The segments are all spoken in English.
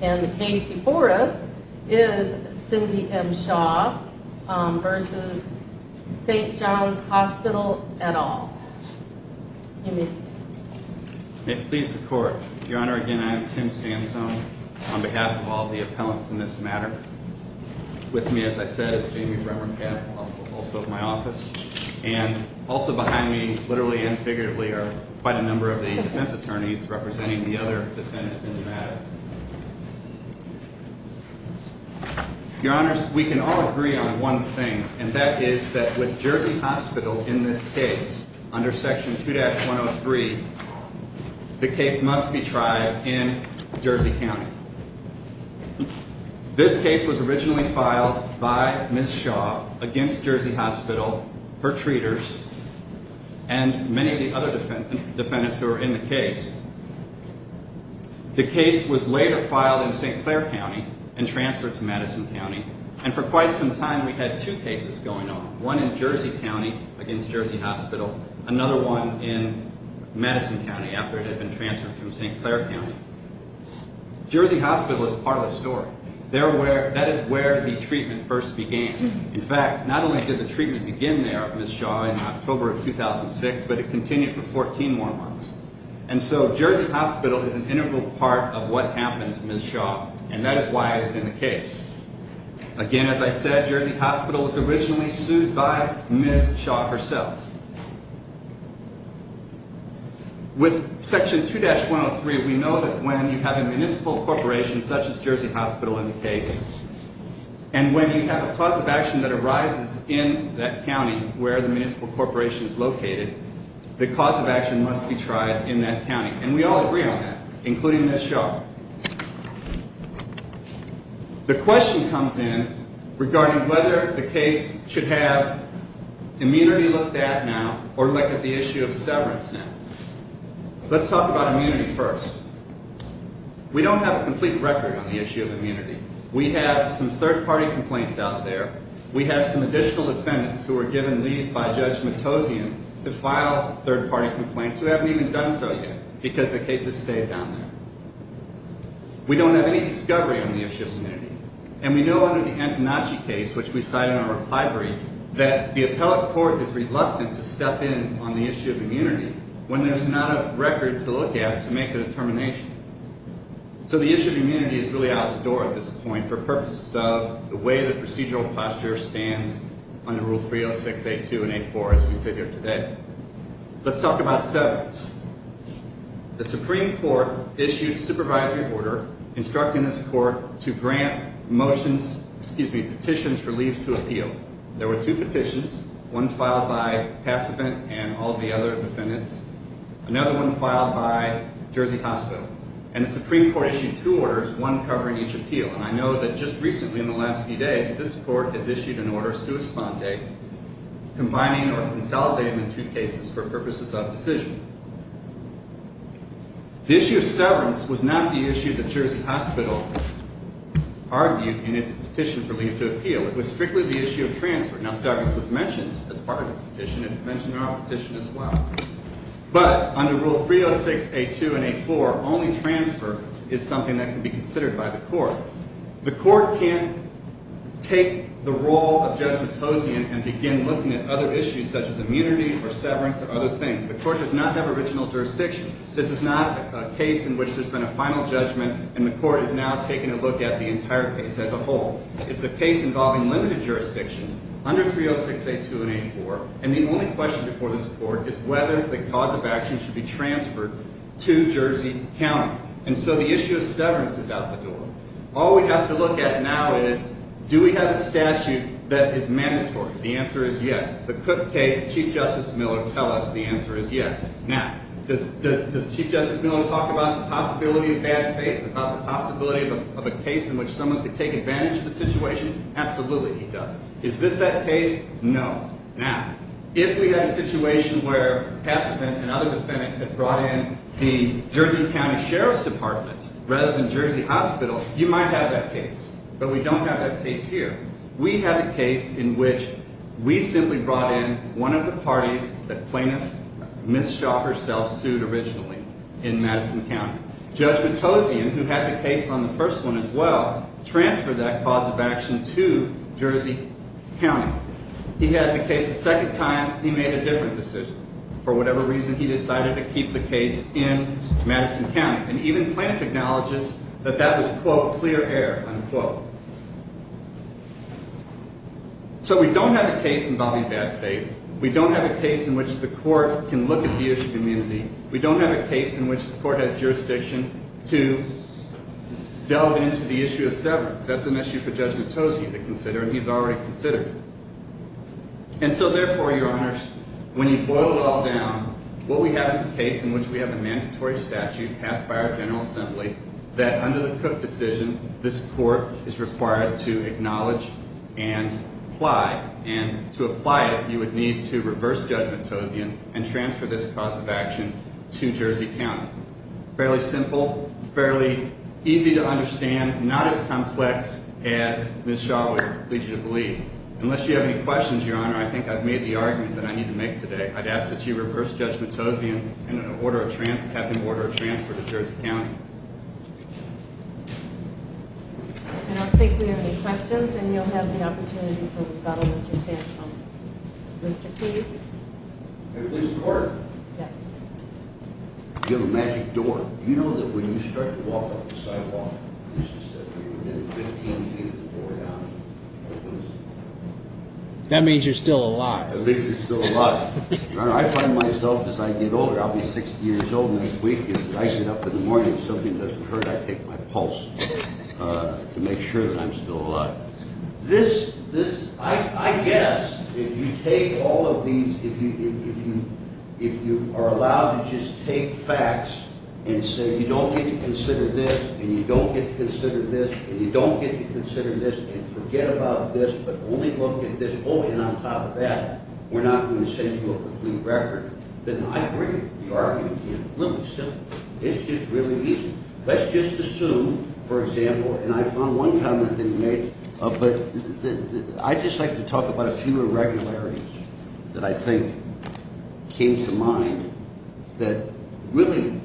And the case before us is Cindy M. Shaw v. St. John's Hospital et al. May it please the court. Your Honor, again, I am Tim Sansone on behalf of all the appellants in this matter. With me, as I said, is Jamie Bremmerkamp, also of my office. And also behind me, literally and figuratively, are quite a number of the defense attorneys representing the other defendants in the matter. Your Honors, we can all agree on one thing, and that is that with Jersey Hospital in this case, under Section 2-103, the case must be tried in Jersey County. This case was originally filed by Ms. Shaw against Jersey Hospital, her treaters, and many of the other defendants who were in the case. The case was later filed in St. Clair County and transferred to Madison County. And for quite some time, we had two cases going on, one in Jersey County against Jersey Hospital, another one in Madison County after it had been transferred from St. Clair County. Jersey Hospital is part of the story. That is where the treatment first began. In fact, not only did the treatment begin there with Ms. Shaw in October of 2006, but it continued for 14 more months. And so Jersey Hospital is an integral part of what happened to Ms. Shaw, and that is why it is in the case. Again, as I said, Jersey Hospital was originally sued by Ms. Shaw herself. With Section 2-103, we know that when you have a municipal corporation such as Jersey Hospital in the case, and when you have a cause of action that arises in that county where the municipal corporation is located, the cause of action must be tried in that county. And we all agree on that, including Ms. Shaw. The question comes in regarding whether the case should have immunity looked at now or look at the issue of severance now. Let's talk about immunity first. We don't have a complete record on the issue of immunity. We have some third-party complaints out there. We have some additional defendants who were given leave by Judge Matosian to file third-party complaints who haven't even done so yet because the case has stayed down there. We don't have any discovery on the issue of immunity. And we know under the Antonacci case, which we cite in our reply brief, that the appellate court is reluctant to step in on the issue of immunity when there's not a record to look at to make a determination. So the issue of immunity is really out the door at this point for purposes of the way the procedural posture stands under Rule 306, A2, and A4 as we sit here today. Let's talk about severance. The Supreme Court issued a supervisory order instructing this court to grant motions, excuse me, petitions for leave to appeal. There were two petitions, one filed by Passopant and all the other defendants, another one filed by Jersey Hospital. And the Supreme Court issued two orders, one covering each appeal. And I know that just recently in the last few days, this court has issued an order sua sponte, combining or consolidating two cases for purposes of decision. The issue of severance was not the issue that Jersey Hospital argued in its petition for leave to appeal. It was strictly the issue of transfer. Now, severance was mentioned as part of its petition, and it's mentioned in our petition as well. But under Rule 306, A2, and A4, only transfer is something that can be considered by the court. The court can't take the role of judgmentosian and begin looking at other issues such as immunity or severance or other things. The court does not have original jurisdiction. This is not a case in which there's been a final judgment, and the court is now taking a look at the entire case as a whole. It's a case involving limited jurisdiction under 306, A2, and A4. And the only question before this court is whether the cause of action should be transferred to Jersey County. And so the issue of severance is out the door. All we have to look at now is do we have a statute that is mandatory? The answer is yes. The Cook case, Chief Justice Miller tell us the answer is yes. Now, does Chief Justice Miller talk about the possibility of bad faith, about the possibility of a case in which someone could take advantage of the situation? Absolutely, he does. Is this that case? No. Now, if we had a situation where Pesterman and other defendants had brought in the Jersey County Sheriff's Department rather than Jersey Hospital, you might have that case. But we don't have that case here. We have a case in which we simply brought in one of the parties that plaintiff mistook herself sued originally in Madison County. Judge Matosian, who had the case on the first one as well, transferred that cause of action to Jersey County. He had the case a second time. He made a different decision. For whatever reason, he decided to keep the case in Madison County. And even plaintiff acknowledges that that was, quote, clear air, unquote. So we don't have a case involving bad faith. We don't have a case in which the court can look at the issue of immunity. We don't have a case in which the court has jurisdiction to delve into the issue of severance. That's an issue for Judge Matosian to consider, and he's already considered. And so therefore, Your Honors, when you boil it all down, what we have is a case in which we have a mandatory statute passed by our General Assembly that under the Cook decision, this court is required to acknowledge and apply. And to apply it, you would need to reverse Judge Matosian and transfer this cause of action to Jersey County. Fairly simple. Fairly easy to understand. Not as complex as Ms. Shaw would lead you to believe. Unless you have any questions, Your Honor, I think I've made the argument that I need to make today. I'd ask that you reverse Judge Matosian and have him order a transfer to Jersey County. I don't think we have any questions, and you'll have the opportunity for rebuttal if you stand so. Mr. Keith? May we please record? Yes. You have a magic door. You know that when you start to walk up the sidewalk, you should step in within 15 feet of the door down. That means you're still alive. At least you're still alive. Your Honor, I find myself, as I get older, I'll be 60 years old next week. If I get up in the morning and something doesn't hurt, I take my pulse to make sure that I'm still alive. I guess if you take all of these, if you are allowed to just take facts and say you don't get to consider this, and you don't get to consider this, and you don't get to consider this, and forget about this, but only look at this, oh, and on top of that, we're not going to send you a complete record, then I agree with the argument. It's really simple. It's just really easy. Let's just assume, for example, and I found one comment that you made, but I'd just like to talk about a few irregularities that I think came to mind that really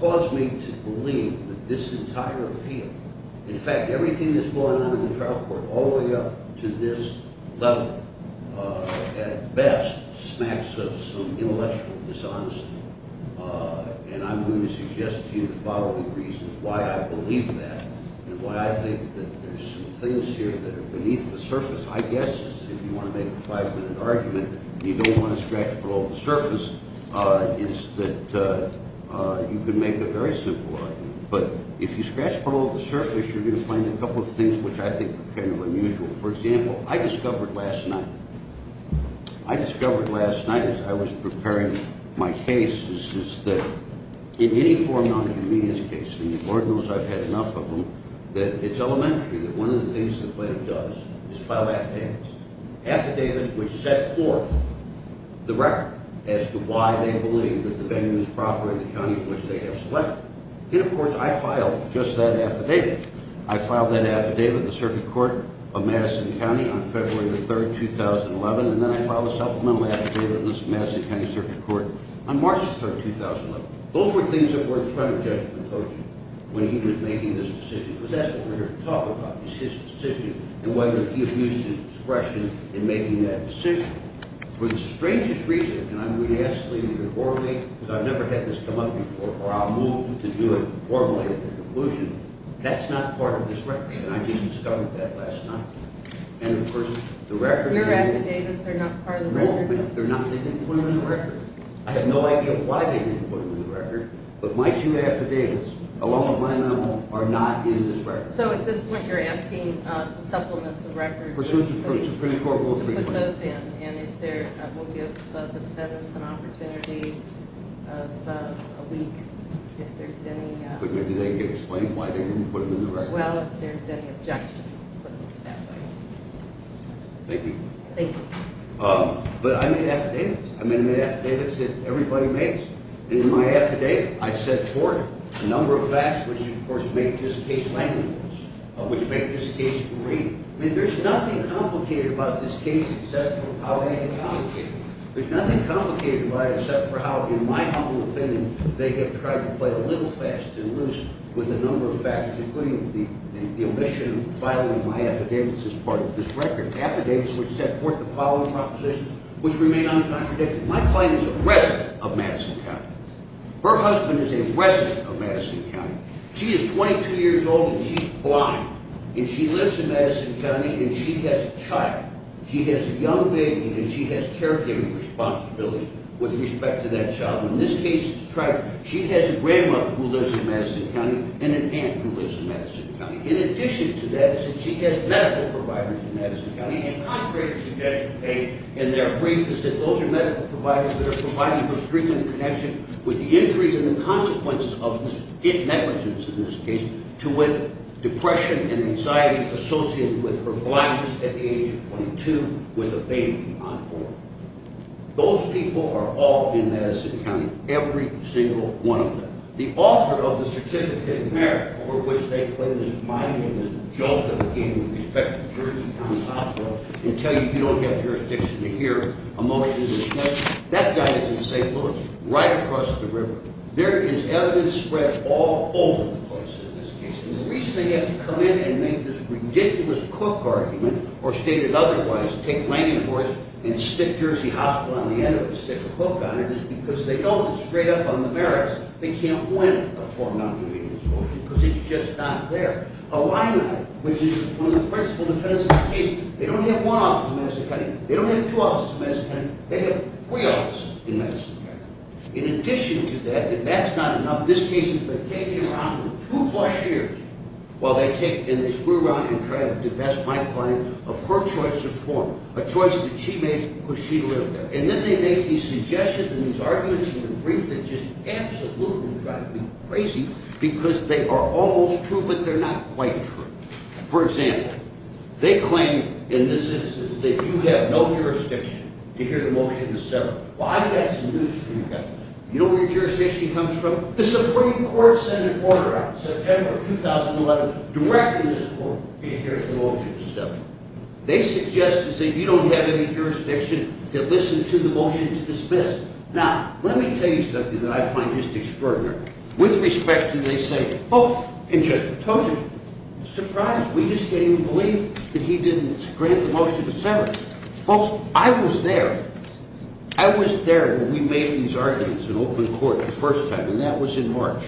caused me to believe that this entire appeal, in fact, everything that's going on in the trial court all the way up to this level, at best, smacks of some intellectual dishonesty, and I'm going to suggest to you the following reasons why I believe that and why I think that there's some things here that are beneath the surface, I guess, if you want to make a five-minute argument and you don't want to scratch the surface, is that you can make a very simple argument, but if you scratch the surface, you're going to find a couple of things which I think are kind of unusual. For example, I discovered last night, I discovered last night as I was preparing my case, is that in any form of nonconvenience case, and the court knows I've had enough of them, that it's elementary that one of the things the plaintiff does is file affidavits, affidavits which set forth the record as to why they believe that the venue is proper in the county in which they have selected. And, of course, I filed just that affidavit. I filed that affidavit in the circuit court of Madison County on February the 3rd, 2011, and then I filed a supplemental affidavit in the Madison County Circuit Court on March the 3rd, 2011. Those were things that were in front of Judge McCloskey when he was making this decision, because that's what we're here to talk about, is his decision and whether he abused his discretion in making that decision. For the strangest reason, and I'm going to ask, Lee, either or me, because I've never had this come up before, or I'll move to do it formally at the conclusion, that's not part of this record, and I just discovered that last night. And, of course, the record… Your affidavits are not part of the record? No, ma'am, they're not. They didn't put them in the record. I have no idea why they didn't put them in the record, but my two affidavits, along with mine, are not in this record. So, at this point, you're asking to supplement the record… Pursuant to Supreme Court Rule 3. We'll put those in, and we'll give the feathers an opportunity of a week if there's any… But do they explain why they didn't put them in the record? Well, if there's any objections, we'll put them in the record. Thank you. Thank you. But I made affidavits. I made affidavits that everybody makes. And in my affidavit, I set forth a number of facts which, of course, make this case languid, which make this case grainy. I mean, there's nothing complicated about this case except for how anecdotal it is. There's nothing complicated about it except for how, in my humble opinion, they have tried to play a little fast and loose with a number of facts, including the omission of filing my affidavits as part of this record. Affidavits which set forth the following propositions, which remain uncontradicted. My client is a resident of Madison County. Her husband is a resident of Madison County. She is 22 years old, and she's blind. And she lives in Madison County, and she has a child. She has a young baby, and she has caregiving responsibilities with respect to that child. In this case, she has a grandmother who lives in Madison County and an aunt who lives in Madison County. In addition to that, she has medical providers in Madison County. And they're briefed that those are medical providers that are providing her treatment in connection with the injuries and the consequences of negligence in this case to what depression and anxiety associated with her blindness at the age of 22 with a baby on board. Those people are all in Madison County, every single one of them. The author of the certificate of merit for which they claim is binding is a joke of the game with respect to Jersey County Hospital and tell you you don't have jurisdiction to hear a motion in this case. That guy is in St. Louis, right across the river. There is evidence spread all over the place in this case. And the reason they have to come in and make this ridiculous Cook argument or state it otherwise, take Langenhorst and stick Jersey Hospital on the end of a stick or hook on it is because they don't get straight up on the merits. They can't win a four-month hearing, of course, because it's just not there. Illini, which is one of the principal defendants in this case, they don't have one office in Madison County. They don't have two offices in Madison County. They have three offices in Madison County. In addition to that, if that's not enough, this case has been taking around for two-plus years while they take and they screw around and try to divest my client of her choice of form, a choice that she made because she lived there. And then they make these suggestions and these arguments in the brief that just absolutely drive me crazy because they are almost true, but they're not quite true. For example, they claim in this instance that you have no jurisdiction to hear the motion in the settlement. Well, I've got some news for you guys. You know where your jurisdiction comes from? The Supreme Court sent an order out in September of 2011 directing this court to hear the motion in the settlement. They suggest that you don't have any jurisdiction to listen to the motion to dismiss. Now, let me tell you something that I find just extraordinary. With respect to they say, oh, in general. I told you. I'm surprised. We just can't even believe that he didn't grant the motion in December. Folks, I was there. I was there when we made these arguments in open court the first time, and that was in March.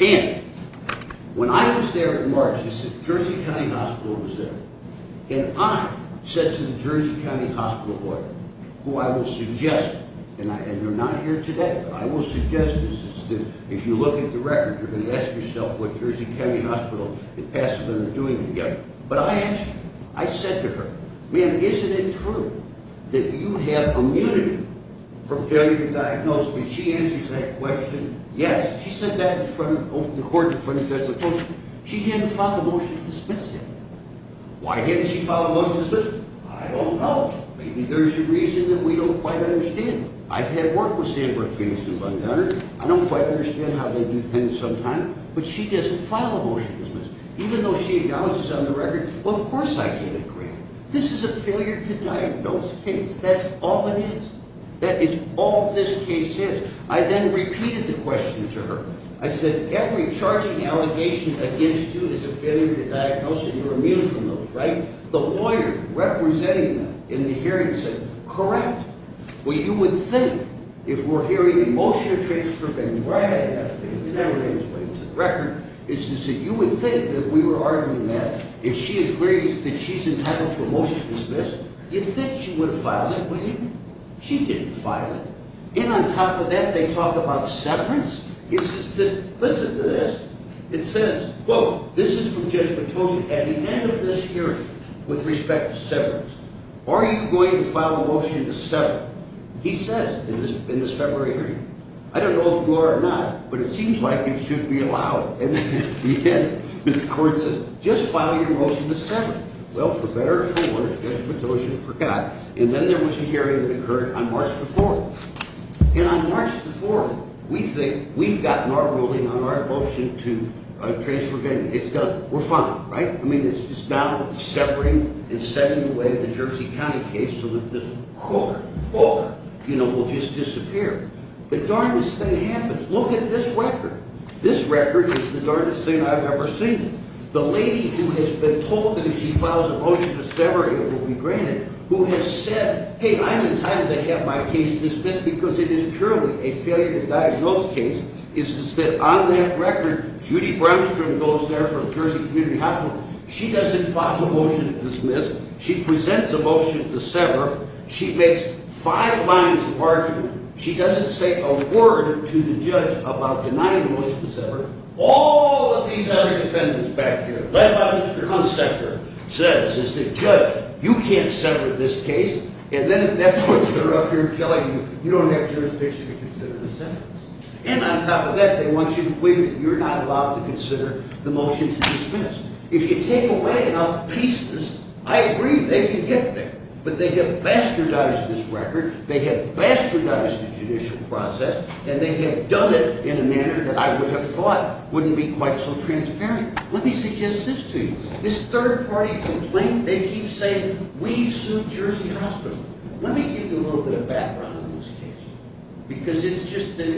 And when I was there in March, the Jersey County Hospital was there. And I said to the Jersey County Hospital board, who I will suggest, and they're not here today, but I will suggest this is that if you look at the record, you're going to ask yourself what Jersey County Hospital and Pasadena are doing together. But I asked her. I said to her, ma'am, isn't it true that you have immunity from failure to diagnose? And she answers that question, yes. She said that in front of the court in front of the judge. She didn't file the motion to dismiss it. Why didn't she file a motion to dismiss it? I don't know. Maybe there's a reason that we don't quite understand. I've had work with Sanford families who have done it. I don't quite understand how they do things sometimes, but she doesn't file a motion to dismiss it. Even though she acknowledges on the record, well, of course I can't agree. This is a failure to diagnose case. That's all it is. That is all this case is. I then repeated the question to her. I said, every charging allegation against you is a failure to diagnose, and you're immune from those, right? The lawyer representing them in the hearing said, correct. Well, you would think if we're hearing the motion to transfer, and right after, because you never really explained it to the record, is to say you would think that if we were arguing that, if she agrees that she's entitled to a motion to dismiss, you'd think she would have filed it, but she didn't. And on top of that, they talk about severance? Listen to this. It says, quote, this is from Judge Matosian at the end of this hearing with respect to severance. Are you going to file a motion to sever? He said in this February hearing, I don't know if you are or not, but it seems like it should be allowed at the end. The court said, just file your motion to sever. Well, for better or for worse, Judge Matosian forgot. And then there was a hearing that occurred on March the 4th. And on March the 4th, we think we've gotten our ruling on our motion to transfer. It's done. We're fine, right? I mean, it's just now severing and setting away the Jersey County case so that this court will just disappear. The darndest thing happens. Look at this record. This record is the darndest thing I've ever seen. The lady who has been told that if she files a motion to sever, it will be granted, who has said, hey, I'm entitled to have my case dismissed because it is purely a failure to diagnose case, is that on that record, Judy Bramstrom goes there from Jersey Community Hospital. She doesn't file a motion to dismiss. She presents a motion to sever. She makes five lines of argument. She doesn't say a word to the judge about denying the motion to sever. All of these other defendants back here, led by Mr. Hunsaker, says is the judge, you can't sever this case. And then at that point, they're up here telling you, you don't have jurisdiction to consider the sentence. And on top of that, they want you to believe that you're not allowed to consider the motion to dismiss. If you take away enough pieces, I agree they can get there. But they have bastardized this record. They have bastardized the judicial process. And they have done it in a manner that I would have thought wouldn't be quite so transparent. Let me suggest this to you. This third-party complaint, they keep saying, we sued Jersey Hospital. Let me give you a little bit of background on this case.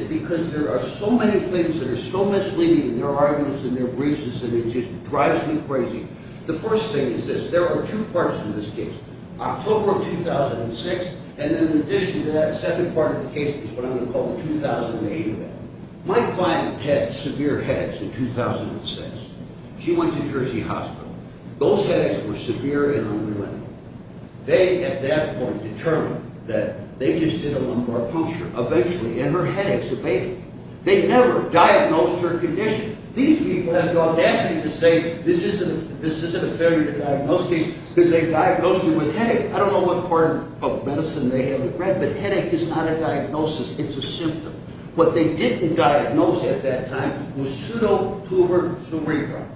Because there are so many things that are so misleading in their arguments and their briefs that it just drives me crazy. The first thing is this. There are two parts to this case. October of 2006. And then in addition to that, the second part of the case is what I'm going to call the 2008 event. My client had severe headaches in 2006. She went to Jersey Hospital. Those headaches were severe and unrelenting. They, at that point, determined that they just did a lumbar puncture. Eventually, in her head, it's a baby. They never diagnosed her condition. These people have the audacity to say this isn't a failure to diagnose case because they've diagnosed her with headaches. I don't know what part of public medicine they haven't read, but headache is not a diagnosis. It's a symptom. What they didn't diagnose at that time was pseudotuberculosis.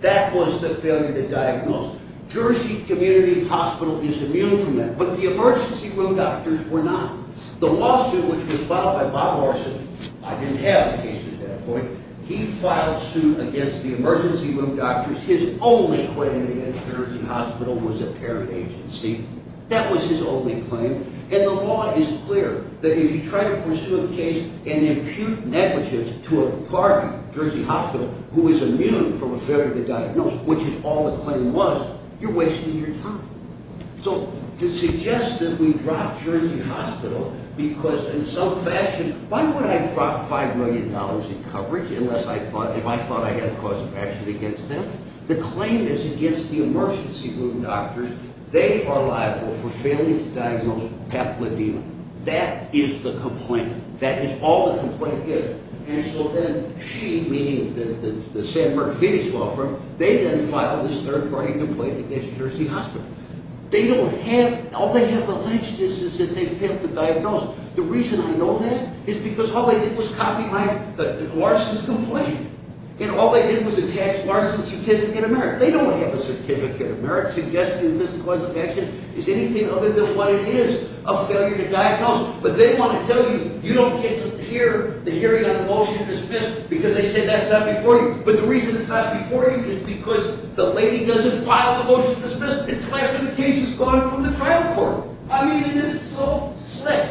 That was the failure to diagnose. Jersey Community Hospital is immune from that. But the emergency room doctors were not. The lawsuit which was filed by Bob Morrison, I didn't have a case at that point, he filed suit against the emergency room doctors. His only claim against Jersey Hospital was a parent agency. That was his only claim. And the law is clear that if you try to pursue a case and impute negligence to a partner, Jersey Hospital, who is immune from a failure to diagnose, which is all the claim was, you're wasting your time. So to suggest that we brought Jersey Hospital because in some fashion, why would I drop $5 million in coverage unless I thought, if I thought I had a cause of action against them? The claim is against the emergency room doctors. They are liable for failing to diagnose peplodema. That is the complaint. That is all the complaint is. And so then she, meaning the San Marcos Phoenix law firm, they then filed this third-party complaint against Jersey Hospital. They don't have, all they have alleged is that they failed to diagnose. The reason I know that is because all they did was copy my, Larson's complaint. And all they did was attach Larson's certificate of merit. They don't have a certificate of merit suggesting that this cause of action is anything other than what it is, a failure to diagnose. But they want to tell you, you don't get to hear the hearing on the motion to dismiss because they said that's not before you. But the reason it's not before you is because the lady doesn't file the motion to dismiss until after the case is gone from the trial court. I mean, it is so slick.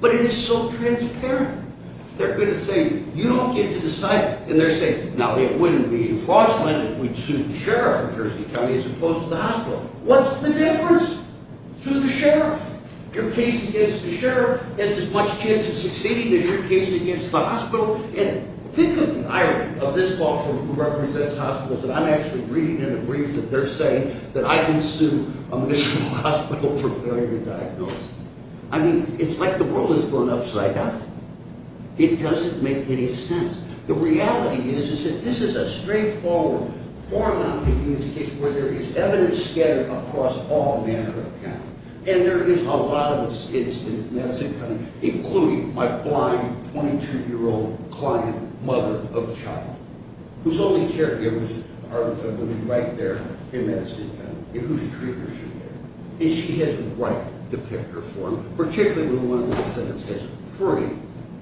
But it is so transparent. They're going to say, you don't get to decide. And they're saying, now, it wouldn't be a fraudulent if we sued the sheriff of Jersey County as opposed to the hospital. What's the difference? Sue the sheriff. Your case against the sheriff has as much chance of succeeding as your case against the hospital. And think of the irony of this law firm who represents hospitals. And I'm actually reading in a brief that they're saying that I can sue a municipal hospital for failure to diagnose. I mean, it's like the world has gone upside down. It doesn't make any sense. The reality is, is that this is a straightforward, formalized case where there is evidence scattered across all manner of county. And there is a lot of evidence in Madison County, including my blind 22-year-old client, mother of a child, whose only caregivers are the women right there in Madison County, and whose treaters are there. And she has right to pick her form, particularly when one of the defendants has three,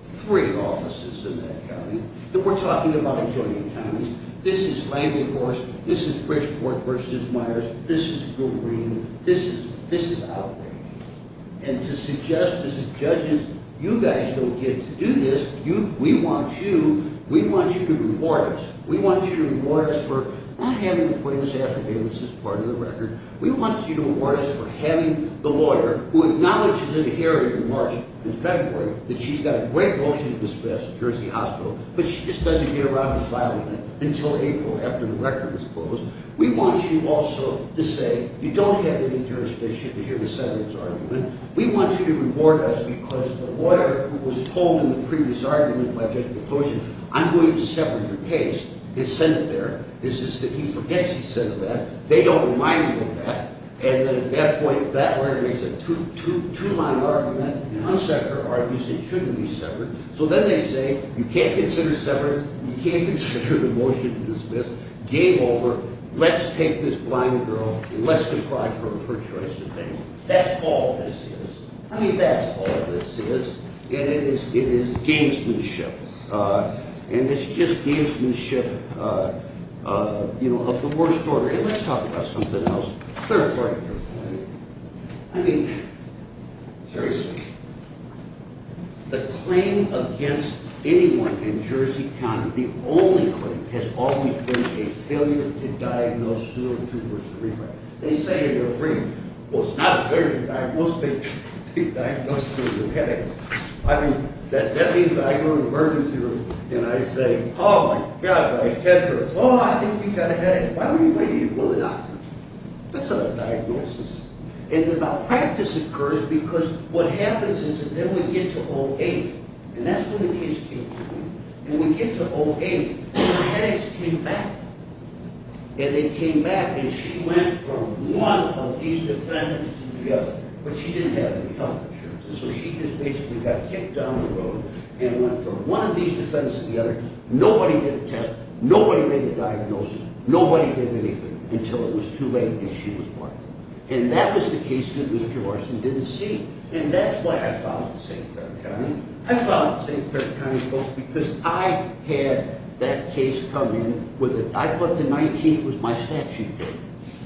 three offices in that county. And we're talking about adjoining counties. This is Langley Horse. This is Bridgeport versus Myers. This is Green. This is outrageous. And to suggest to the judges, you guys don't get to do this. We want you. We want you to reward us. We want you to reward us for not having the greatest affidavits as part of the record. We want you to reward us for having the lawyer who acknowledges in a hearing in March and February that she's got a great motion to dismiss at Jersey Hospital, but she just doesn't get around to filing it until April after the record is closed. We want you also to say you don't have any jurisdiction to hear the senator's argument. We want you to reward us because the lawyer who was told in the previous argument by Judge McCloskey, I'm going to sever your case, is sent there. It's just that he forgets he says that. They don't remind him of that. And then at that point, that lawyer makes a two-line argument, an unseparate argument, saying it shouldn't be severed. So then they say, you can't consider severing. You can't consider the motion dismissed. Game over. Let's take this blind girl and let's deprive her of her choice of family. That's all this is. I mean, that's all this is. And it is gamesmanship. And it's just gamesmanship, you know, of the worst order. And let's talk about something else, the third part of your point. I mean, seriously, the claim against anyone in Jersey County, the only claim, has always been a failure to diagnose two or three. They say in their briefing, well, it's not a failure to diagnose two or three headaches. I mean, that means I go to the emergency room and I say, oh, my God, my head hurts. Oh, I think we've got a headache. Why don't we go to the doctor? That's not a diagnosis. And the malpractice occurs because what happens is that then we get to 08. And that's when the case came to me. When we get to 08, the headaches came back. And they came back, and she went from one of these defendants to the other. But she didn't have any health insurance. And so she just basically got kicked down the road and went from one of these defendants to the other. Nobody did a test. Nobody made a diagnosis. Nobody did anything until it was too late and she was blind. And that was the case that Mr. Morrison didn't see. And that's why I found St. Clair County. I found St. Clair County, folks, because I had that case come in. I thought the 19th was my statute date.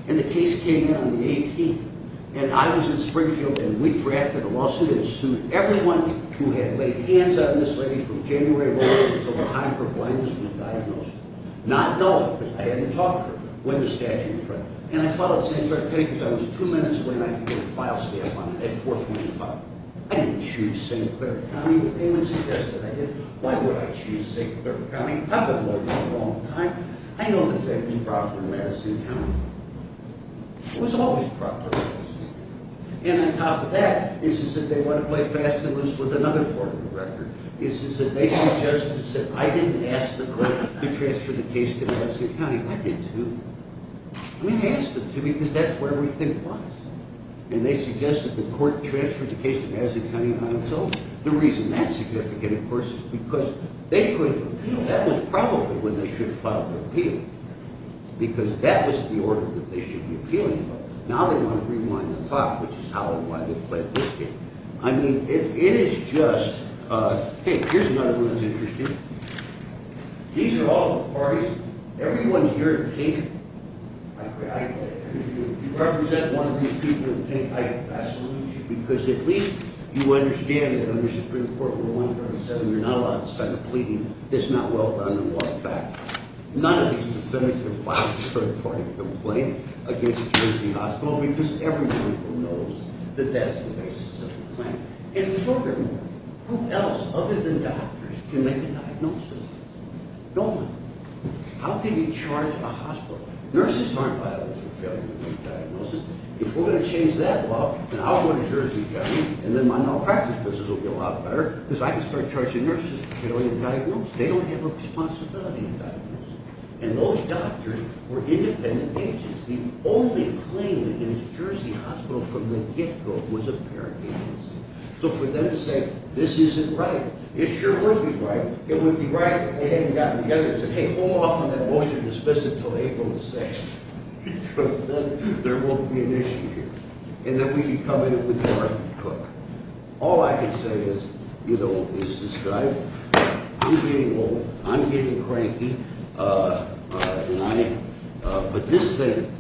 And the case came in on the 18th. And I was in Springfield, and we drafted a lawsuit and sued everyone who had laid hands on this lady from January 11th until the time her blindness was diagnosed. Not knowing because I hadn't talked to her when the statute was drafted. And I followed St. Clair County because I was two minutes away, and I could get a file stamp on it at 4.5. I didn't choose St. Clair County, but they would suggest that I did. Why would I choose St. Clair County? I've been working there a long time. I know that that was proper in Madison County. It was always proper in Madison County. And on top of that is that they want to play fast and loose with another part of the record. They said, I didn't ask the court to transfer the case to Madison County. I did, too. We asked them to because that's where we think lies. And they suggested the court transferred the case to Madison County on its own. The reason that's significant, of course, is because they couldn't appeal. That was probably when they should have filed an appeal because that was the order that they should be appealing. Now they want to rewind the clock, which is how and why they've played this game. I mean, it is just—hey, here's another one that's interesting. These are all the parties. Everyone here in pink—you represent one of these people in pink. I absolutely should, because at least you understand that under Supreme Court Rule 137, you're not allowed to sign a pleading that's not well done in law. In fact, none of these defendants have filed a third-party complaint against Tracy Hospital because everyone knows that that's the basis of the claim. And furthermore, who else other than doctors can make a diagnosis? No one. How can you charge a hospital? Nurses aren't liable for failure to make diagnoses. If we're going to change that law, then I'll go to Jersey County, and then my malpractice business will be a lot better because I can start charging nurses for failing to diagnose. They don't have a responsibility to diagnose. And those doctors were independent agents. The only claim against Jersey Hospital from the get-go was a parent agency. So for them to say, this isn't right, it sure would be right. It would be right if they hadn't gotten together and said, hey, hold off on that motion to dismiss it until April the 6th, because then there won't be an issue here, and then we'd be coming in with the right to put it. All I can say is, you know, is this guy, you're getting old, I'm getting cranky, and I am, but this thing,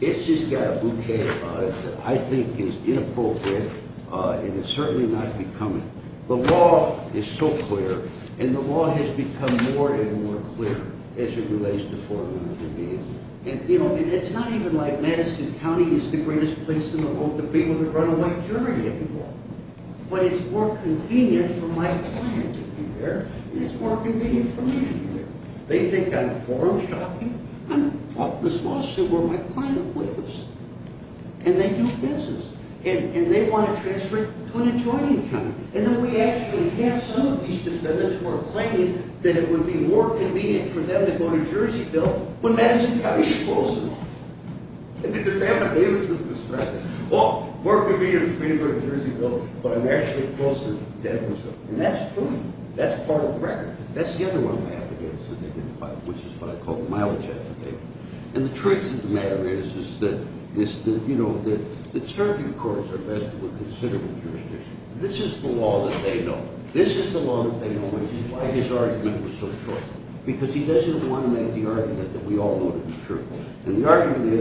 it's just got a bouquet about it that I think is inappropriate, and it's certainly not becoming. The law is so clear, and the law has become more and more clear as it relates to Fort Lauderdale. And, you know, it's not even like Madison County is the greatest place in the world to be with a runaway jury anymore. But it's more convenient for my client to be there, and it's more convenient for me to be there. They think I'm forum shopping. I'm talking to the solicitor where my client lives, and they do business, and they want to transfer to an adjoining county, and then we actually have some of these defendants who are claiming that it would be more convenient for them to go to Jerseyville when Madison County is closer. And there's that behavior to the perspective. Well, more convenient for me to go to Jerseyville, but I'm actually closer to Edwardsville. And that's true. That's part of the record. That's the other one of my affidavits that they didn't file, which is what I call the mileage affidavit. And the truth of the matter is that circuit courts are vested with considerable jurisdiction. This is the law that they know. This is the law that they know, which is why his argument was so short, because he doesn't want to make the argument that we all know to be true. And the argument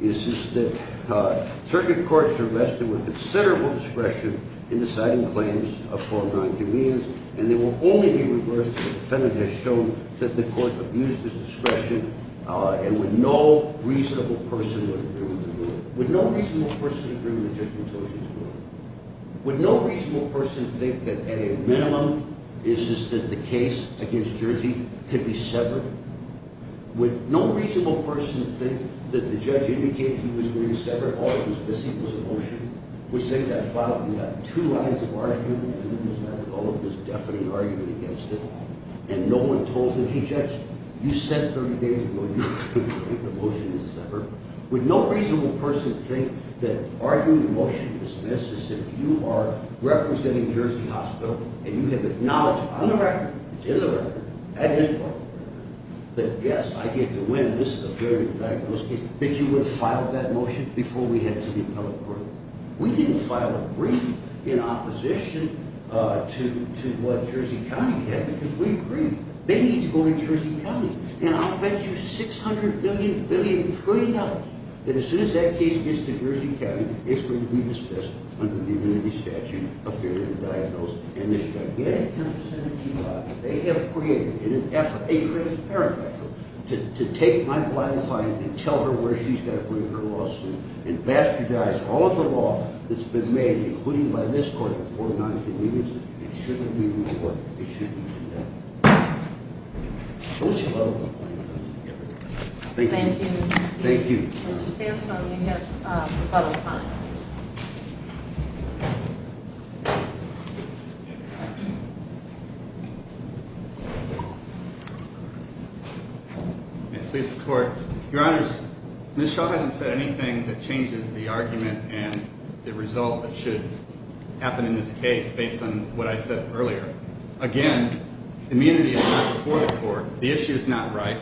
is that circuit courts are vested with considerable discretion in deciding claims of foreign nonconvenience, and they will only be reversed if the defendant has shown that the court abused his discretion and with no reasonable person would agree with the ruling. With no reasonable person agree with the judgment of his ruling. Would no reasonable person think that at a minimum, it's just that the case against Jersey could be severed? Would no reasonable person think that the judge indicated he was going to sever it because this equals a motion? We're saying that file, we've got two lines of argument, and there's definite argument against it, and no one told him, hey judge, you said 30 days ago you were going to make the motion to sever. Would no reasonable person think that arguing a motion to dismiss is if you are representing Jersey Hospital and you have acknowledged on the record, which is a record, that yes, I get to win, this is a fair diagnosis, that you would have filed that motion before we head to the appellate court? We didn't file a brief in opposition to what Jersey County had, because we agreed, they need to go to Jersey County, and I'll bet you $600 billion, billion, trillion, that as soon as that case gets to Jersey County, it's going to be dismissed under the immunity statute of failure to diagnose, and this is again a concern that you have. They have created an effort, a transparent effort, to take my client's client and tell her where she's got to bring her lawsuit and bastardize all of the law that's been made, including by this court, for non-convenience, it shouldn't be rewarded, it shouldn't be done. So it's a level playing field. Thank you. Thank you. Thank you. Your Honors, Ms. Shaw hasn't said anything that changes the argument and the result that should happen in this case based on what I said earlier. Again, immunity is not before the court. The issue is not right.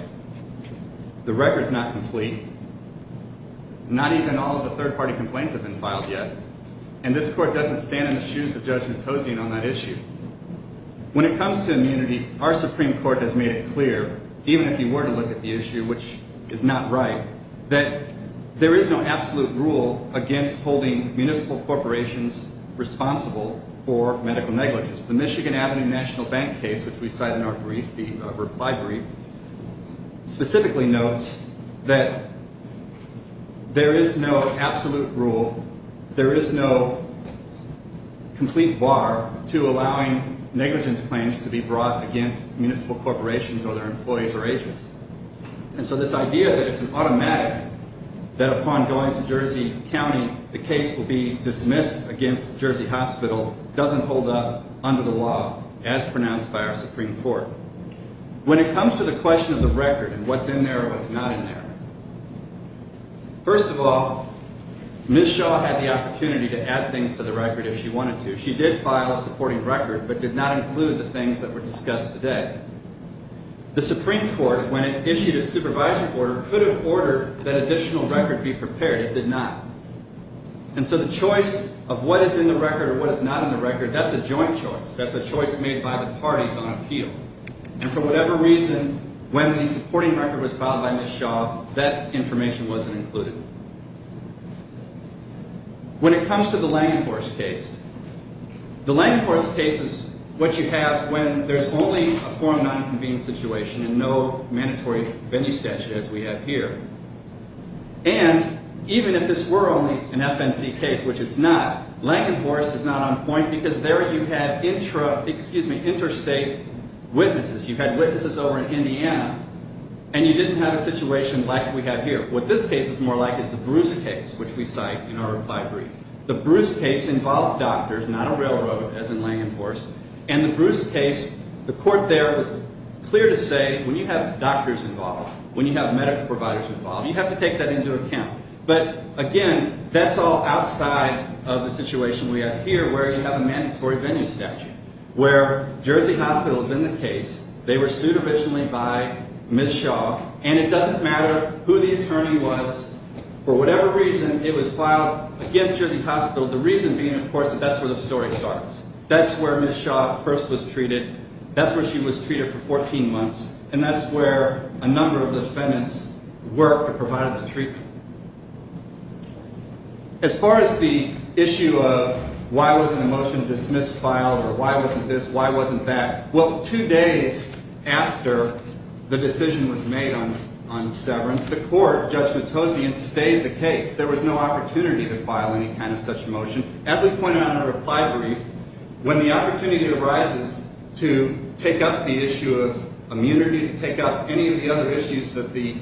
The record's not complete. Not even all of the third-party complaints have been filed yet, and this court doesn't stand in the shoes of Judge Matosian on that issue. When it comes to immunity, our Supreme Court has made it clear, even if you were to look at the issue, which is not right, that there is no absolute rule against holding municipal corporations responsible for medical negligence. The Michigan Avenue National Bank case, which we cite in our reply brief, specifically notes that there is no absolute rule, there is no complete bar to allowing negligence claims to be brought against municipal corporations or their employees or agents. And so this idea that it's an automatic, that upon going to Jersey County, the case will be dismissed against Jersey Hospital, doesn't hold up under the law as pronounced by our Supreme Court. When it comes to the question of the record and what's in there and what's not in there, first of all, Ms. Shaw had the opportunity to add things to the record if she wanted to. She did file a supporting record but did not include the things that were discussed today. The Supreme Court, when it issued a supervisory order, could have ordered that additional record be prepared. It did not. And so the choice of what is in the record or what is not in the record, that's a joint choice. That's a choice made by the parties on appeal. And for whatever reason, when the supporting record was filed by Ms. Shaw, that information wasn't included. When it comes to the Langenhorst case, the Langenhorst case is what you have when there's only a form non-convened situation and no mandatory venue statute, as we have here. And even if this were only an FNC case, which it's not, Langenhorst is not on point because there you had interstate witnesses. You had witnesses over in Indiana and you didn't have a situation like we have here. What this case is more like is the Bruce case, which we cite in our reply brief. The Bruce case involved doctors, not a railroad, as in Langenhorst. And the Bruce case, the court there was clear to say, when you have doctors involved, when you have medical providers involved, you have to take that into account. But again, that's all outside of the situation we have here, where you have a mandatory venue statute, where Jersey Hospital is in the case. They were sued originally by Ms. Shaw. And it doesn't matter who the attorney was. For whatever reason, it was filed against Jersey Hospital, the reason being, of course, that that's where the story starts. That's where Ms. Shaw first was treated. That's where she was treated for 14 months. And that's where a number of defendants worked or provided the treatment. As far as the issue of why wasn't a motion dismissed, filed, or why wasn't this, why wasn't that, well, two days after the decision was made on severance, the court, Judge Matosian, stayed the case. There was no opportunity to file any kind of such motion. As we pointed out in our reply brief, when the opportunity arises to take up the issue of immunity, to take up any of the other issues that the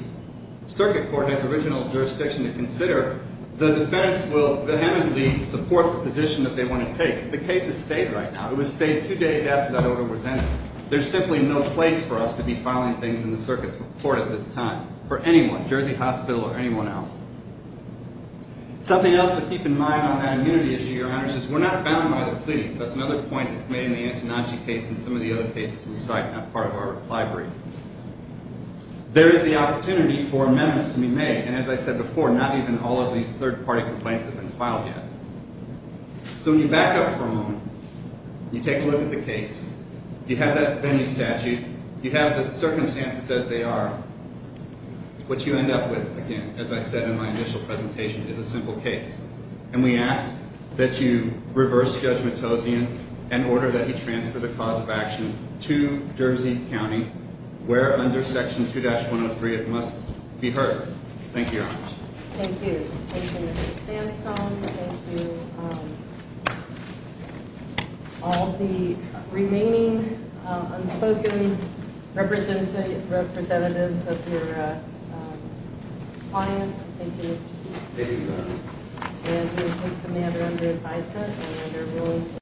circuit court has original jurisdiction to consider, the defense will vehemently support the position that they want to take. The case is stayed right now. It was stayed two days after that order was entered. There's simply no place for us to be filing things in the circuit court at this time, for anyone, Jersey Hospital or anyone else. Something else to keep in mind on that immunity issue, Your Honor, is we're not bound by the plea. That's another point that's made in the Antonacci case and some of the other cases we cite as part of our reply brief. There is the opportunity for amendments to be made, and as I said before, not even all of these third-party complaints have been filed yet. So when you back up for a moment, you take a look at the case, you have that venue statute, you have the circumstances as they are, what you end up with, again, as I said in my initial presentation, is a simple case. And we ask that you reverse Judge Matossian and order that he transfer the cause of action to Jersey County, where under Section 2-103 it must be heard. Thank you, Your Honor. Thank you. Thank you, Mr. Sandstone. Thank you, all the remaining unspoken representatives of your clients. Thank you. Thank you, Your Honor.